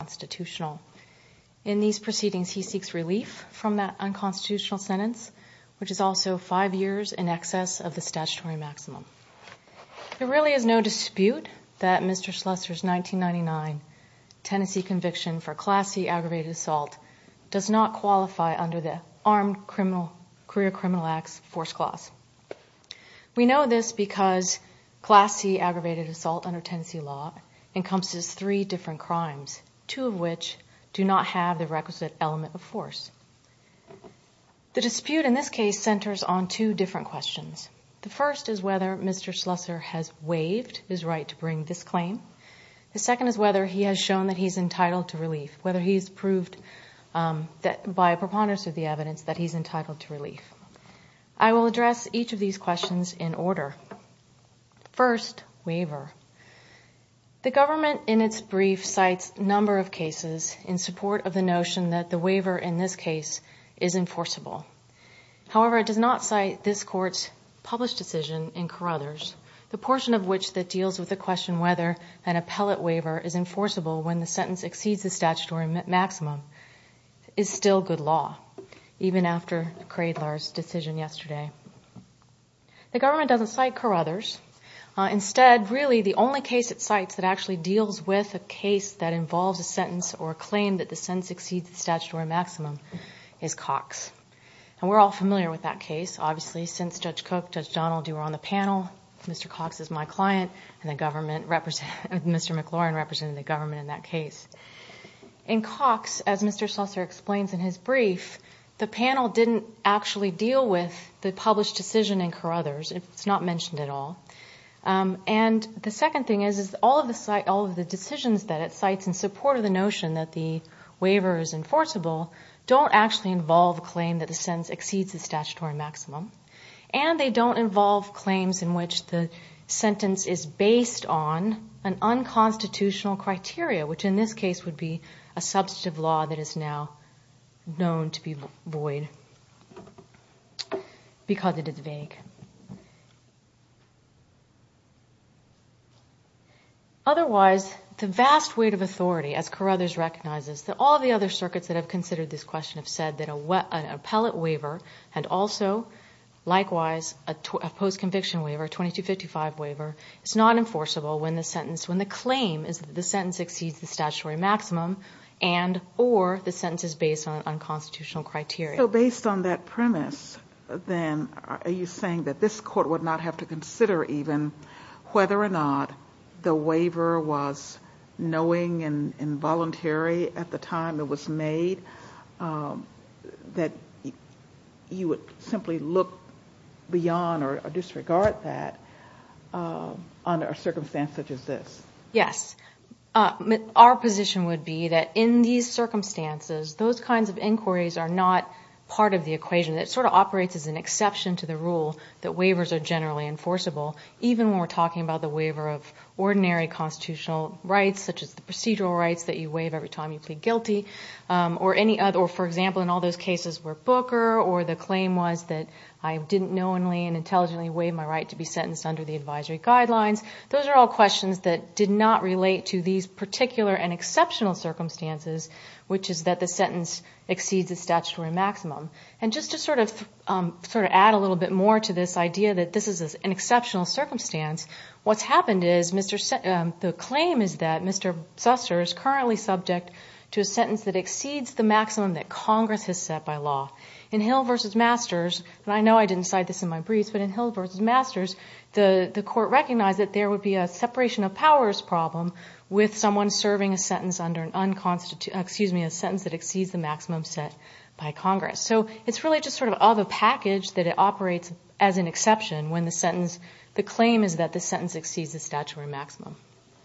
Constitutional. In these proceedings, he seeks relief from that unconstitutional sentence, which is also five years in excess of the statutory maximum. There really is no dispute that Mr. Slusser's 1999 Tennessee conviction for Class C aggravated assault does not qualify under the Armed Career Criminal Act's force clause. We know this because Class C aggravated assault under Tennessee law encompasses three different crimes, two of which do not have the requisite element of force. The dispute in this case centers on two different questions. The first is whether Mr. Slusser has waived his right to bring this claim. The second is whether he has shown that he's entitled to relief, whether he's proved that by preponderance of the evidence that he's entitled to relief. I will The government, in its brief, cites a number of cases in support of the notion that the waiver in this case is enforceable. However, it does not cite this court's published decision in Carruthers, the portion of which that deals with the question whether an appellate waiver is enforceable when the sentence exceeds the statutory maximum is still good law, even after Cradler's decision yesterday. The government doesn't cite Carruthers. Instead, really, the only case it cites that actually deals with a case that involves a sentence or a claim that the sentence exceeds the statutory maximum is Cox. And we're all familiar with that case, obviously, since Judge Cook, Judge Donald, you were on the panel. Mr. Cox is my client, and Mr. McLaurin represented the government in that case. In Cox, as Mr. Slusser explains in his brief, the panel didn't actually deal with the published decision in Carruthers. It's not mentioned at all. The second thing is, all of the decisions that it cites in support of the notion that the waiver is enforceable don't actually involve a claim that the sentence exceeds the statutory maximum, and they don't involve claims in which the sentence is based on an unconstitutional criteria, which in this case would be a because it is vague. Otherwise, the vast weight of authority, as Carruthers recognizes, that all the other circuits that have considered this question have said that an appellate waiver and also, likewise, a post-conviction waiver, 2255 waiver, it's not enforceable when the sentence, when the claim is that the sentence exceeds the statutory maximum and or the sentence is based on unconstitutional criteria. Based on that premise, then, are you saying that this court would not have to consider even whether or not the waiver was knowing and involuntary at the time it was made, that you would simply look beyond or disregard that under a circumstance such as this? Yes. Our position would be that in these circumstances, those kinds of inquiries are not part of the equation. It sort of operates as an exception to the rule that waivers are generally enforceable, even when we're talking about the waiver of ordinary constitutional rights, such as the procedural rights that you waive every time you plead guilty, or any other, for example, in all those cases where Booker or the claim was that I didn't knowingly and intelligently waive my right to be sentenced under the advisory guidelines. Those are all questions that did not circumstances, which is that the sentence exceeds the statutory maximum. And just to sort of add a little bit more to this idea that this is an exceptional circumstance, what's happened is the claim is that Mr. Susser is currently subject to a sentence that exceeds the maximum that Congress has set by law. In Hill v. Masters, and I know I didn't cite this in my briefs, but in Hill v. Masters, the court recognized that there would be a separation of a sentence that exceeds the maximum set by Congress. So it's really just sort of a package that it operates as an exception when the sentence, the claim is that the sentence exceeds the statutory maximum.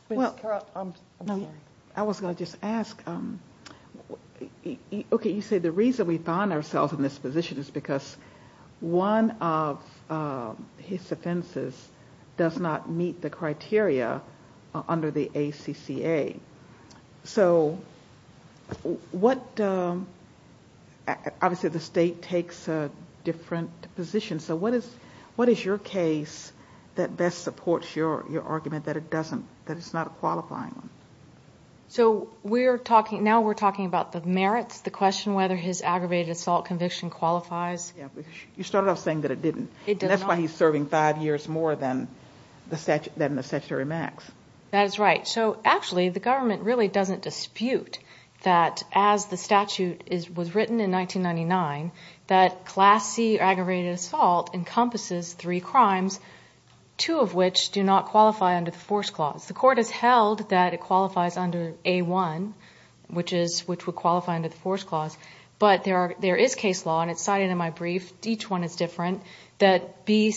I was going to just ask, okay, you say the reason we find ourselves in this position is because one of his offenses does not meet the criteria under the law. Obviously the state takes a different position. So what is your case that best supports your argument that it's not a qualifying one? So now we're talking about the merits, the question whether his aggravated assault conviction qualifies. You started off saying that it didn't. And that's why he's serving five years more than the statutory max. That's right. So actually the government really doesn't dispute that as the statute was written in 1999, that Class C aggravated assault encompasses three crimes, two of which do not qualify under the Force Clause. The court has held that it qualifies under A-1, which would qualify under the Force Clause. But there is case law, and it's cited in my brief, each one is different, that the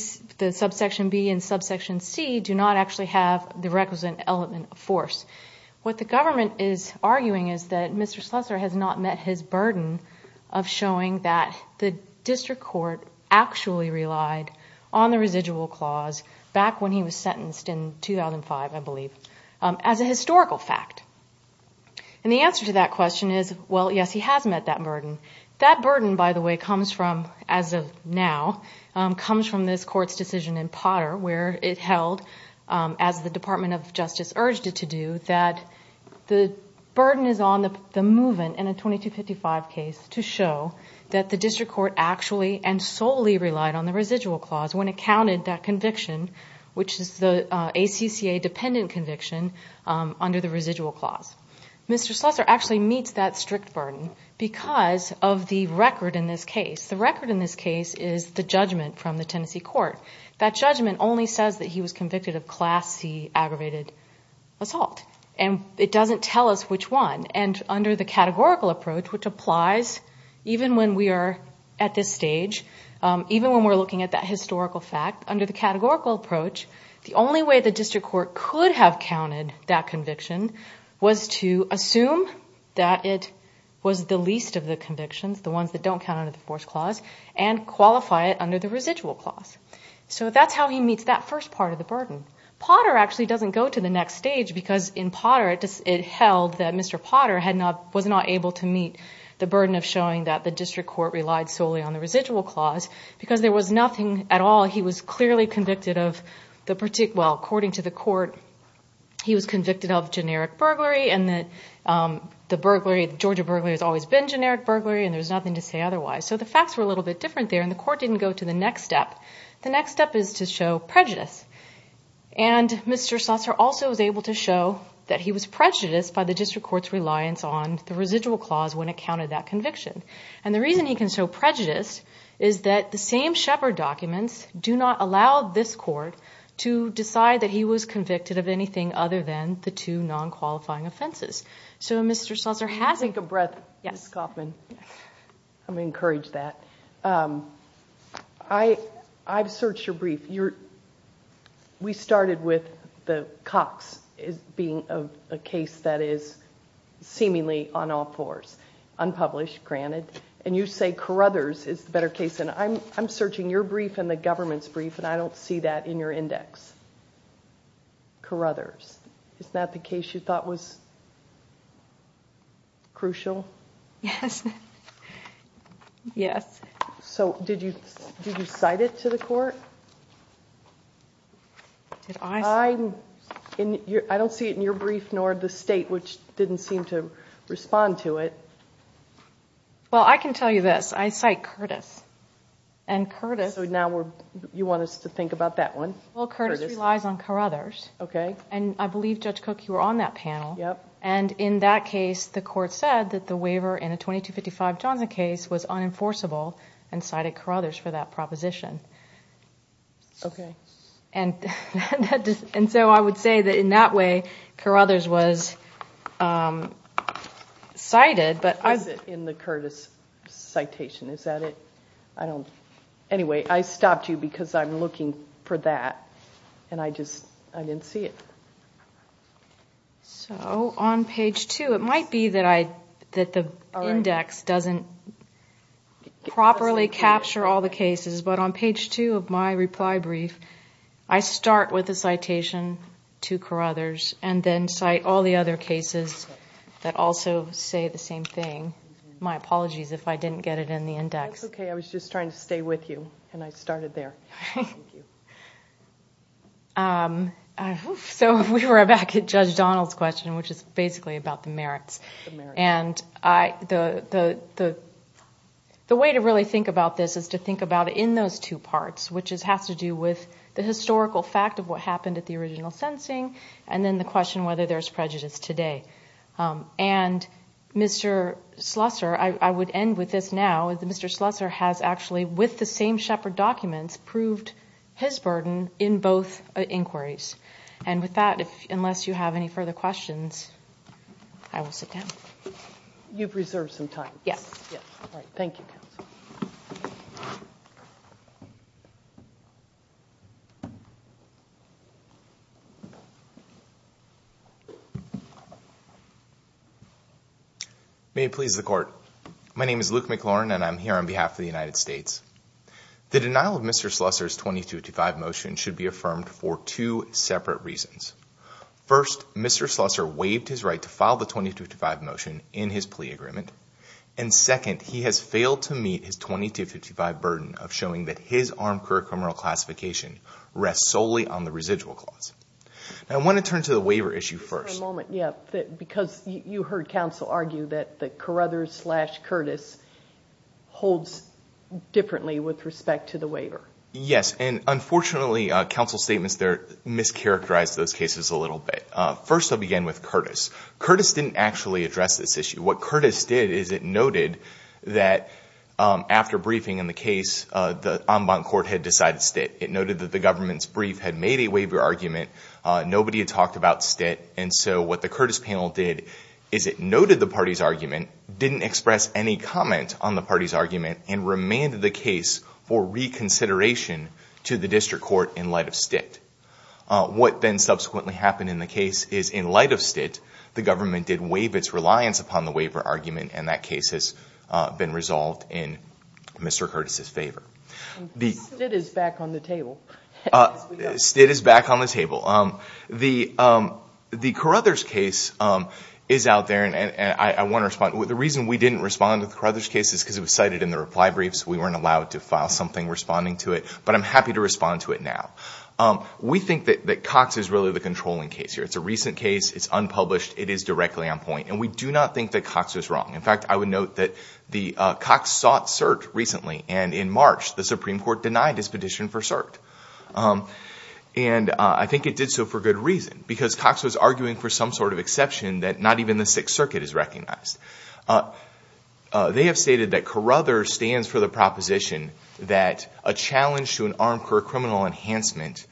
subsection B and subsection C do not actually have the requisite element of force. What the government is arguing is that Mr. Schleser has not met his burden of showing that the district court actually relied on the residual clause back when he was sentenced in 2005, I believe, as a historical fact. And the answer to that question is, well, yes, he has met that burden. That burden, by the way, comes from, as of now, comes from this court's decision in Potter where it held, as the Department of Justice urged it to do, that the burden is on the movement in a 2255 case to show that the district court actually and solely relied on the residual clause when it counted that conviction, which is the ACCA-dependent conviction under the residual clause. Mr. Schleser actually meets that strict burden because of the record in this court. That judgment only says that he was convicted of Class C aggravated assault, and it doesn't tell us which one. And under the categorical approach, which applies even when we are at this stage, even when we're looking at that historical fact, under the categorical approach, the only way the district court could have counted that conviction was to assume that it was the least of the convictions, the ones that don't count under the force clause, and qualify it under the residual clause. So that's how he meets that first part of the burden. Potter actually doesn't go to the next stage because in Potter it held that Mr. Potter was not able to meet the burden of showing that the district court relied solely on the residual clause because there was nothing at all. He was clearly convicted of, well, according to the court, he was convicted of generic burglary, and the Georgia burglary has always been generic burglary, and there's nothing to say otherwise. So the facts were a little bit different there, and the court didn't go to the next step. The next step is to show prejudice, and Mr. Schlosser also was able to show that he was prejudiced by the district court's reliance on the residual clause when it counted that conviction. And the reason he can show prejudice is that the same Shepard documents do not allow this court to decide that he was convicted of anything other than the two non-qualifying offenses. So Mr. Schlosser hasn't... I'm encouraged that. I've searched your brief. We started with the Cox being a case that is seemingly on all fours, unpublished, granted, and you say Carruthers is the better case, and I'm searching your brief and the government's brief, and I don't see that in your index. Carruthers. It's not the case you thought was crucial? Yes. Yes. So did you cite it to the court? I don't see it in your brief, nor the state, which didn't seem to respond to it. Well, I can tell you this. I cite Curtis, and Curtis... So now you want us to think about that one? Well, Curtis relies on Carruthers, and I believe, Judge Cook, you were on that panel, and in that case, the court said that the waiver in a 2255 Johnson case was unenforceable and cited Carruthers for that proposition. Okay. And so I would say that in that way, Carruthers was cited, but... What is it in the Curtis citation? Is that it? I don't... Anyway, I stopped you because I'm looking for that, and I just, I didn't see it. So on page two, it might be that I, that the index doesn't properly capture all the cases, but on page two of my reply brief, I start with a citation to Carruthers, and then cite all the other cases that also say the same thing. My apologies if I didn't get it in the index. That's okay. I was just trying to stay with you, and I started there. So we were back at Judge Donald's question, which is basically about the merits, and I, the way to really think about this is to think about it in those two parts, which has to do with the historical fact of what happened at the original sentencing, and then the question whether there's prejudice today. And Mr. Slusser, I would end with this now, is that Mr. Slusser has actually, with the same Shepard documents, proved his burden in both inquiries. And with that, if, unless you have any further questions, I will sit down. You've reserved some time. Yes, yes. All right. Thank you, counsel. May it please the court. My name is Luke McLaurin, and I'm here on behalf of the United States. The denial of Mr. Slusser's 2255 motion should be affirmed for two separate reasons. First, Mr. Slusser waived his right to file the 2255 motion in his plea agreement. And second, he has failed to meet his 2255 burden of showing that his armed career criminal classification rests solely on the residual clause. Now, I want to turn to the waiver issue first. For a moment, yeah, because you heard counsel argue that the Carruthers slash Curtis holds differently with respect to the waiver. Yes, and unfortunately, counsel's statements there mischaracterized those cases a little bit. First, I'll begin with Curtis. Curtis didn't actually address this issue. What Curtis did is it noted that after briefing in the case, the en banc court had decided stit. It noted that the government's brief had made a waiver argument. Nobody had talked about stit. And so what the Curtis panel did is it noted the party's argument, didn't express any comment on the party's to the district court in light of stit. What then subsequently happened in the case is in light of stit, the government did waive its reliance upon the waiver argument, and that case has been resolved in Mr. Curtis's favor. Stit is back on the table. Stit is back on the table. The Carruthers case is out there, and I want to respond. The reason we didn't respond to the Carruthers case is because it was cited in the reply brief, so we weren't allowed to file something responding to it, but I'm happy to respond to it now. We think that Cox is really the controlling case here. It's a recent case, it's unpublished, it is directly on point. And we do not think that Cox was wrong. In fact, I would note that the Cox sought cert recently, and in March, the Supreme Court denied his petition for cert. And I think it did so for good reason, because Cox was arguing for some sort of exception that not even the Sixth Circuit has recognized. They have stated that Carruthers stands for the proposition that a challenge to an armed criminal enhancement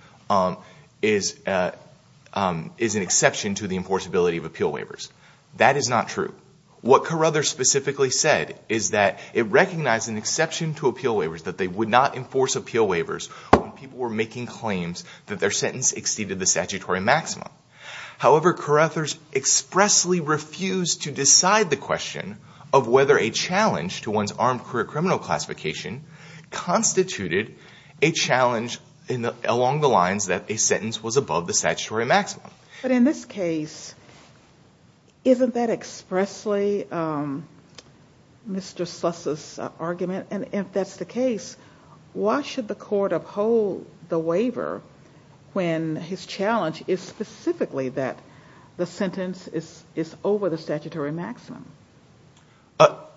is an exception to the enforceability of appeal waivers. That is not true. What Carruthers specifically said is that it recognized an exception to appeal waivers, that they would not enforce appeal waivers when people were making claims that their sentence exceeded the statutory maximum. However, Carruthers expressly refused to decide the question of whether a challenge to one's armed career criminal classification constituted a challenge along the lines that a sentence was above the statutory maximum. But in this case, isn't that expressly Mr. Sluss's argument? And that the sentence is over the statutory maximum?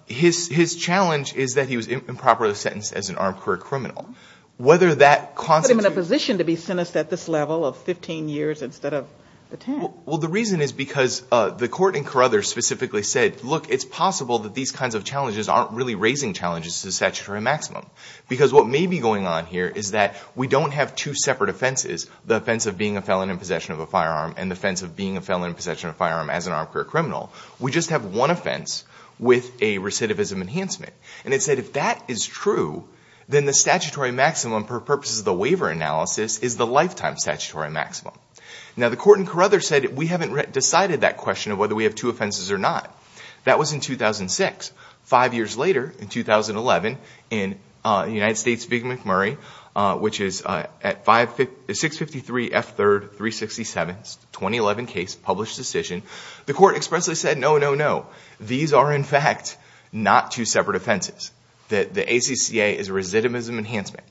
His challenge is that he was improperly sentenced as an armed career criminal. Put him in a position to be sentenced at this level of 15 years instead of 10. Well, the reason is because the Court in Carruthers specifically said, look, it's possible that these kinds of challenges aren't really raising challenges to the statutory maximum. Because what may be going on here is that we don't have two offenses. We just have one offense with a recidivism enhancement. And it said if that is true, then the statutory maximum for purposes of the waiver analysis is the lifetime statutory maximum. Now, the Court in Carruthers said we haven't decided that question of whether we have two offenses or not. That was in 2006. Five years later, in 2011, in the United States, McMurray, which is at 653 F3, 367, 2011 case, published decision, the Court expressly said, no, no, no. These are, in fact, not two separate offenses. The ACCA is a recidivism enhancement.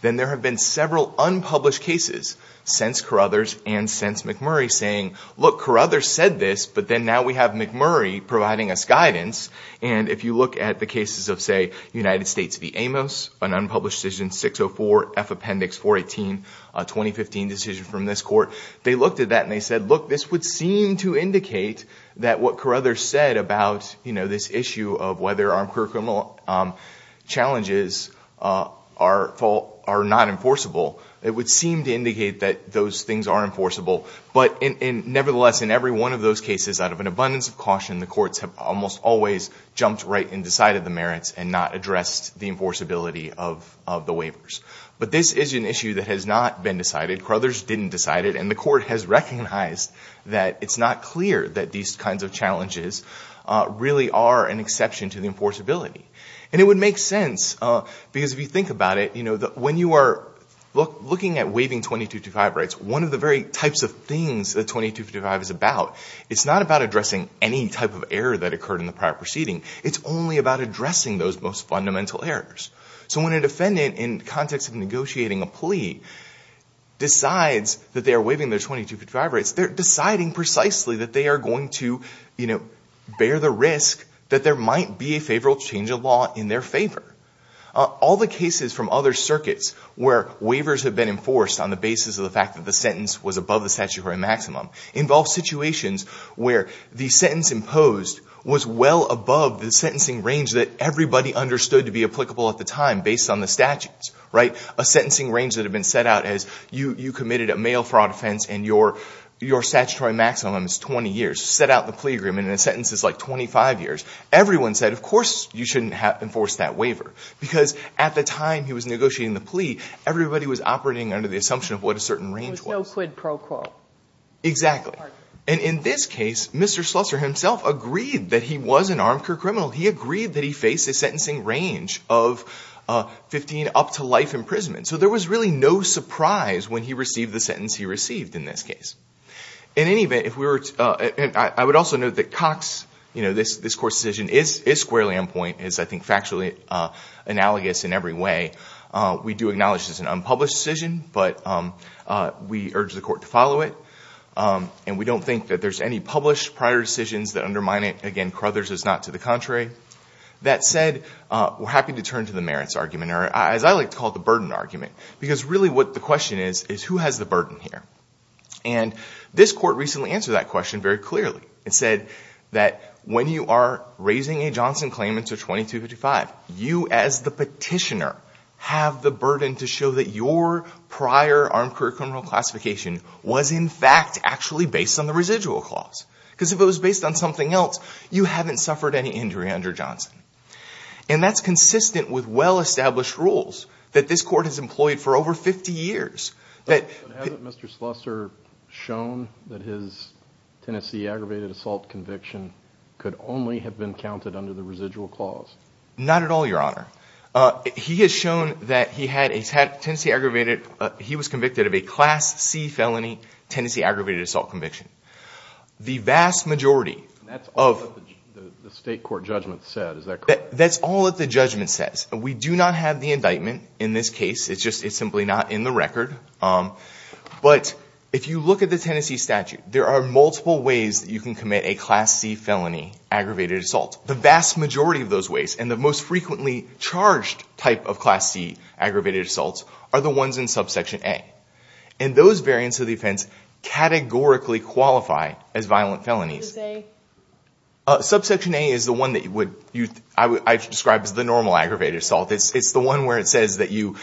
Then there have been several unpublished cases since Carruthers and since McMurray saying, look, Carruthers said this, but then now we have McMurray providing us guidance. And if you look at the cases of, say, United States v. Amos, an unpublished decision, 604 F Appendix 418, a 2015 decision from this Court, they looked at that and they said, look, this would seem to indicate that what Carruthers said about this issue of whether our criminal challenges are not enforceable, it would seem to indicate that those things are enforceable. But nevertheless, in every one of those cases, out of an abundance of caution, the courts have almost always jumped right and decided the merits and not addressed the enforceability of the waivers. But this is an issue that has not been decided. Carruthers didn't decide it. And the Court has recognized that it's not clear that these kinds of challenges really are an exception to the enforceability. And it would make sense, because if you think about it, when you are looking at waiving 2255 rights, one of the very types of things that occurred in the prior proceeding, it's only about addressing those most fundamental errors. So when a defendant, in context of negotiating a plea, decides that they are waiving their 2255 rights, they're deciding precisely that they are going to, you know, bear the risk that there might be a favorable change of law in their favor. All the cases from other circuits where waivers have been enforced on the basis of the fact that the sentence was above the statutory maximum involve situations where the sentence imposed was well above the sentencing range that everybody understood to be applicable at the time based on the statutes, right? A sentencing range that had been set out as you committed a mail fraud offense and your statutory maximum is 20 years. Set out the plea agreement and the sentence is like 25 years. Everyone said, of course, you shouldn't have enforced that waiver. Because at the time he was negotiating the plea, everybody was operating under the assumption of what a certain range was. There was no quid pro quo. Exactly. And in this case, Mr. Slusser himself agreed that he was an armchair criminal. He agreed that he faced a sentencing range of 15 up to life imprisonment. So there was really no surprise when he received the sentence he received in this case. In any event, if we were, and I would also note that Cox, you know, this court's decision is squarely on point, is, I think, factually analogous in every way. We do acknowledge this is an unpublished decision, but we urge the and we don't think that there's any published prior decisions that undermine it. Again, Crothers is not to the contrary. That said, we're happy to turn to the merits argument, or as I like to call it, the burden argument. Because really what the question is, is who has the burden here? And this court recently answered that question very clearly. It said that when you are raising a Johnson claim into 2255, you as the petitioner have the burden to show that your actually based on the residual clause. Because if it was based on something else, you haven't suffered any injury under Johnson. And that's consistent with well-established rules that this court has employed for over 50 years. But hasn't Mr. Slusser shown that his Tennessee aggravated assault conviction could only have been counted under the residual clause? Not at all, Your Honor. He has shown that he had a Tennessee aggravated, he was convicted of a Class C felony Tennessee aggravated assault conviction. The vast majority of... That's all that the state court judgment said, is that correct? That's all that the judgment says. We do not have the indictment in this case. It's just, it's simply not in the record. But if you look at the Tennessee statute, there are multiple ways that you can commit a Class C felony aggravated assault. The vast majority of those ways, and the most frequently charged type of Class C aggravated assaults, are the ones in subsection A. And those variants of the offense categorically qualify as violent felonies. Subsection A is the one that I would describe as the normal aggravated assault. It's the one where it says that you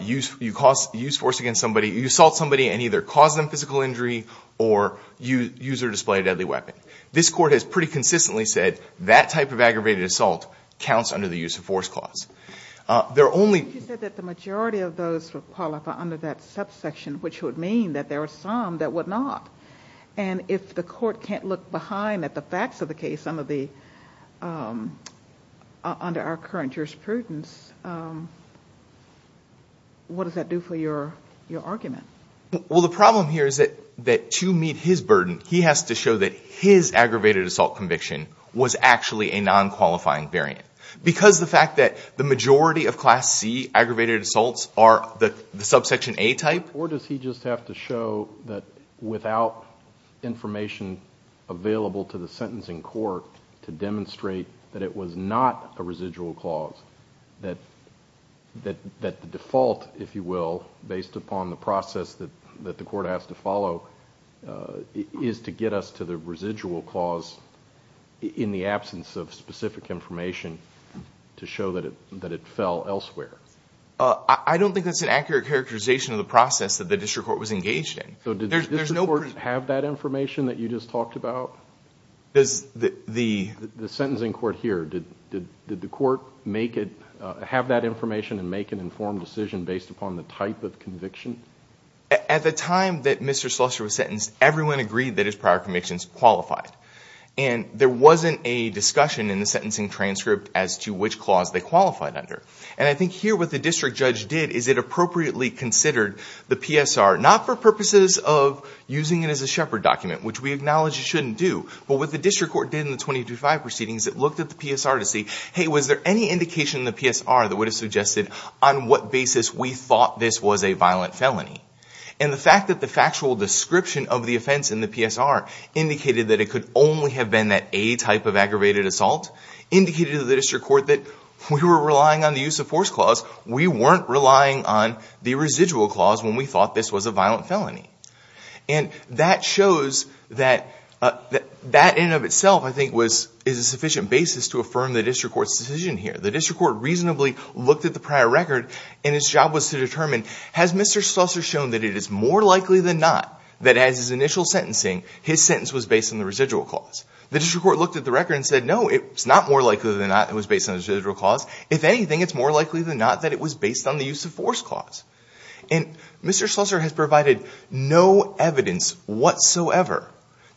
use force against somebody, you assault somebody and either cause them physical injury or use or display a deadly weapon. This court has pretty consistently said that type of aggravated assault counts under the use of force clause. There are only... You said that the majority of those would qualify under that subsection, which would mean that there are some that would not. And if the court can't look behind at the facts of the case, under our current jurisprudence, what does that do for your argument? Well, the problem here is that to meet his burden, he has to show that his aggravated assault conviction was actually a non-qualifying variant. Because the fact that the majority of Class C aggravated assaults are the subsection A type... Or does he just have to show that without information available to the sentencing court to demonstrate that it was not a residual clause, that the default, if you will, based upon the process that the court has to follow is to get us to the residual clause in the absence of specific information to show that it fell elsewhere? I don't think that's an accurate characterization of the process that the district court was engaged in. So did the district court have that information that you just talked about? The sentencing court here, did the court have that information and make an informed decision based upon the type of conviction? At the time that Mr. Slusser was sentenced, everyone agreed that his prior convictions qualified. And there wasn't a discussion in the sentencing transcript as to which clause they qualified under. And I think here what the district judge did is it appropriately considered the PSR, not for purposes of using it as a shepherd document, which we acknowledge you shouldn't do, but what the district court did in the 2035 proceedings, it looked at the PSR to see, hey, was there any indication in the PSR that would have suggested on what basis we thought this was a violent felony? And the fact that the factual description of the offense in the PSR indicated that it could only have been that A type of aggravated assault, indicated to the district court that we were relying on the use of force clause. We weren't relying on the residual clause when we thought this was a violent felony. And that shows that that in and of itself, I think, is a sufficient basis to affirm the district court's decision here. The district court reasonably looked at the prior record and its job was to determine, has Mr. Slusser shown that it is more likely than not that as his initial sentencing, his sentence was based on the residual clause? The district court looked at the record and said, no, it's not more likely than not it was based on the residual clause. If anything, it's more likely than not that it was based on the use of force clause. And Mr. Slusser has provided no evidence whatsoever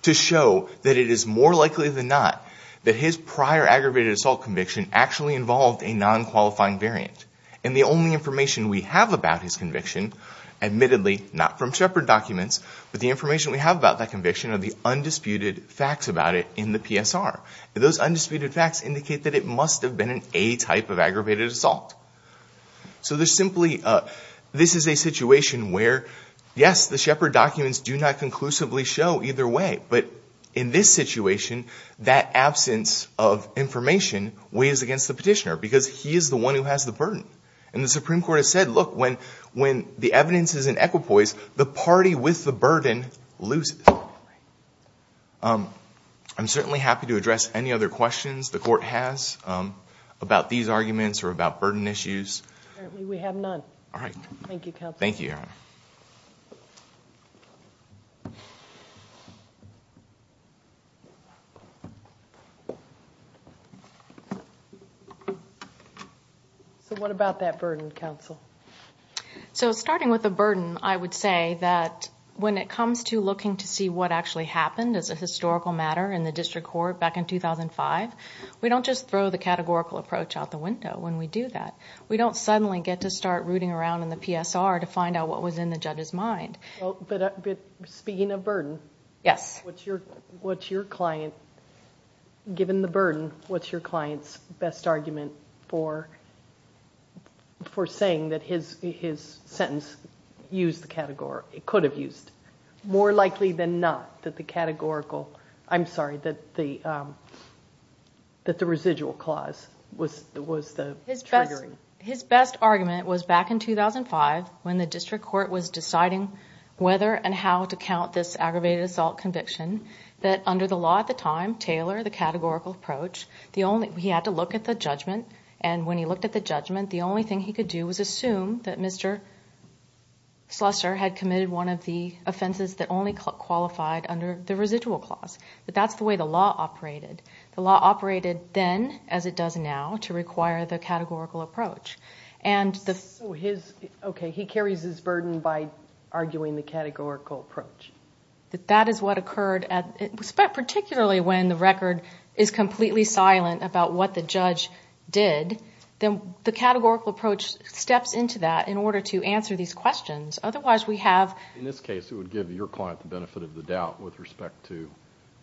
to show that it is more likely than not that his prior aggravated assault conviction actually involved a non-qualifying variant. And the only information we have about his conviction, admittedly not from Shepard documents, but the information we have about that conviction are the undisputed facts about it in the PSR. Those undisputed facts indicate that it must have been an A type of aggravated assault. So there's simply, this is a situation where, yes, the Shepard documents do not conclusively show either way. But in this situation, that absence of information weighs against the petitioner because he is the one who has the burden. And the Supreme Court has said, look, when the evidence is in equipoise, the party with the burden loses. I'm certainly happy to address any other questions the court has about these arguments or about burden issues. We have none. All right. Thank you, counsel. So what about that burden, counsel? So starting with the burden, I would say that when it comes to looking to see what actually happened as a historical matter in the district court back in 2005, we don't just throw the burden. We don't suddenly get to start rooting around in the PSR to find out what was in the judge's mind. Speaking of burden, given the burden, what's your client's best argument for saying that his sentence used the category, it could have used, more likely than not, that the categorical, I'm sorry, that the residual clause was the triggering. His best argument was back in 2005 when the district court was deciding whether and how to count this aggravated assault conviction, that under the law at the time, Taylor, the categorical approach, he had to look at the judgment. And when he looked at the judgment, the only thing he could do was assume that Mr. Slusser had committed one of the offenses that only qualified under the residual clause. But that's the way the law operated. The law operated then, as it does now, to require the categorical approach. Okay, he carries his burden by arguing the categorical approach. That is what occurred, particularly when the record is completely silent about what the judge did, then the categorical approach steps into that in order to answer these questions. Otherwise, we have... In this case, it would give your client the benefit of the doubt with respect to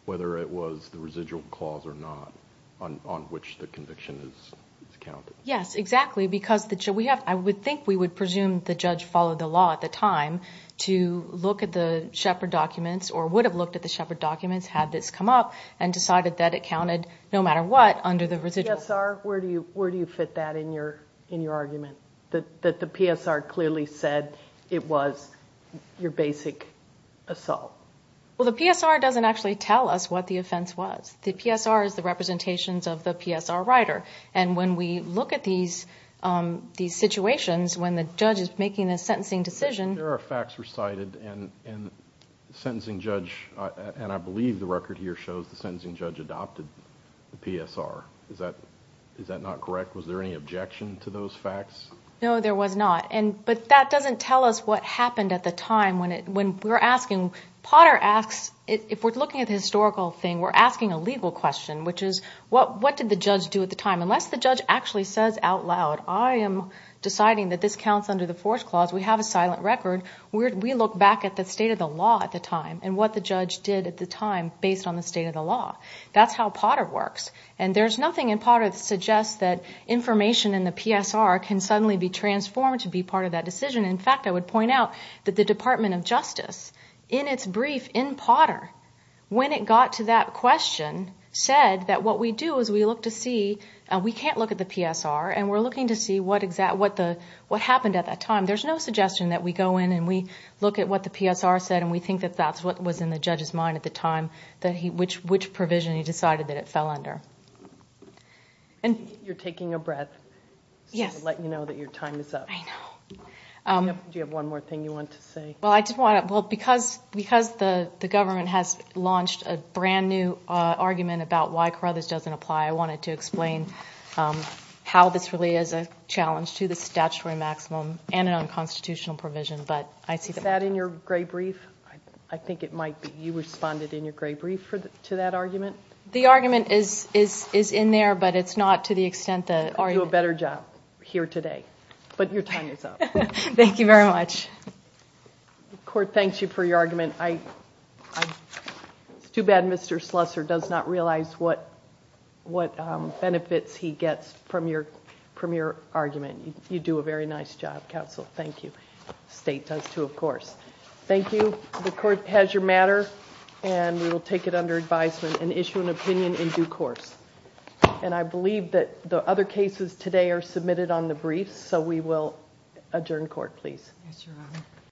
whether it was the residual clause or not on which the conviction is counted. Yes, exactly, because I would think we would presume the judge followed the law at the time to look at the Shepard documents, or would have looked at the Shepard documents had this come up and decided that it counted, no matter what, under the residual... PSR, where do you fit that in your argument, that the PSR clearly said it was your basic assault? Well, the PSR doesn't actually tell us what the offense was. The PSR is the representations of the PSR writer. And when we look at these situations, when the judge is making a sentencing decision... There are facts recited, and the sentencing judge, and I believe the record here shows the sentencing judge adopted the PSR. Is that not correct? Was there any objection to those facts? No, there was not. But that doesn't tell us what happened at the time when we're asking Potter asks... If we're looking at the historical thing, we're asking a legal question, which is, what did the judge do at the time? Unless the judge actually says out loud, I am deciding that this counts under the fourth clause, we have a silent record. We look back at the state of the law at the time and what the judge did at the time based on the state of the law. That's how Potter works. And there's nothing in Potter that suggests that information in the PSR can suddenly be transformed to be part of that decision. In fact, I would point out that the Department of its brief in Potter, when it got to that question, said that what we do is we look to see... We can't look at the PSR, and we're looking to see what happened at that time. There's no suggestion that we go in and we look at what the PSR said, and we think that that's what was in the judge's mind at the time, which provision he decided that it fell under. You're taking a breath. Yes. Letting you know that your time is up. I know. Do you have one more thing you want to say? Because the government has launched a brand new argument about why Carruthers doesn't apply, I wanted to explain how this really is a challenge to the statutory maximum and an unconstitutional provision, but I see... Is that in your gray brief? I think it might be. You responded in your gray brief to that argument? The argument is in there, but it's not to the extent that... I'll do a better job here today, but your time is up. Thank you very much. The court thanks you for your argument. It's too bad Mr. Slusser does not realize what benefits he gets from your argument. You do a very nice job, counsel. Thank you. The state does too, of course. Thank you. The court has your matter, and we will take it under advisement and issue an opinion in due course. I believe that the other cases today are submitted on the brief, so we will adjourn court, please. Yes, Your Honor.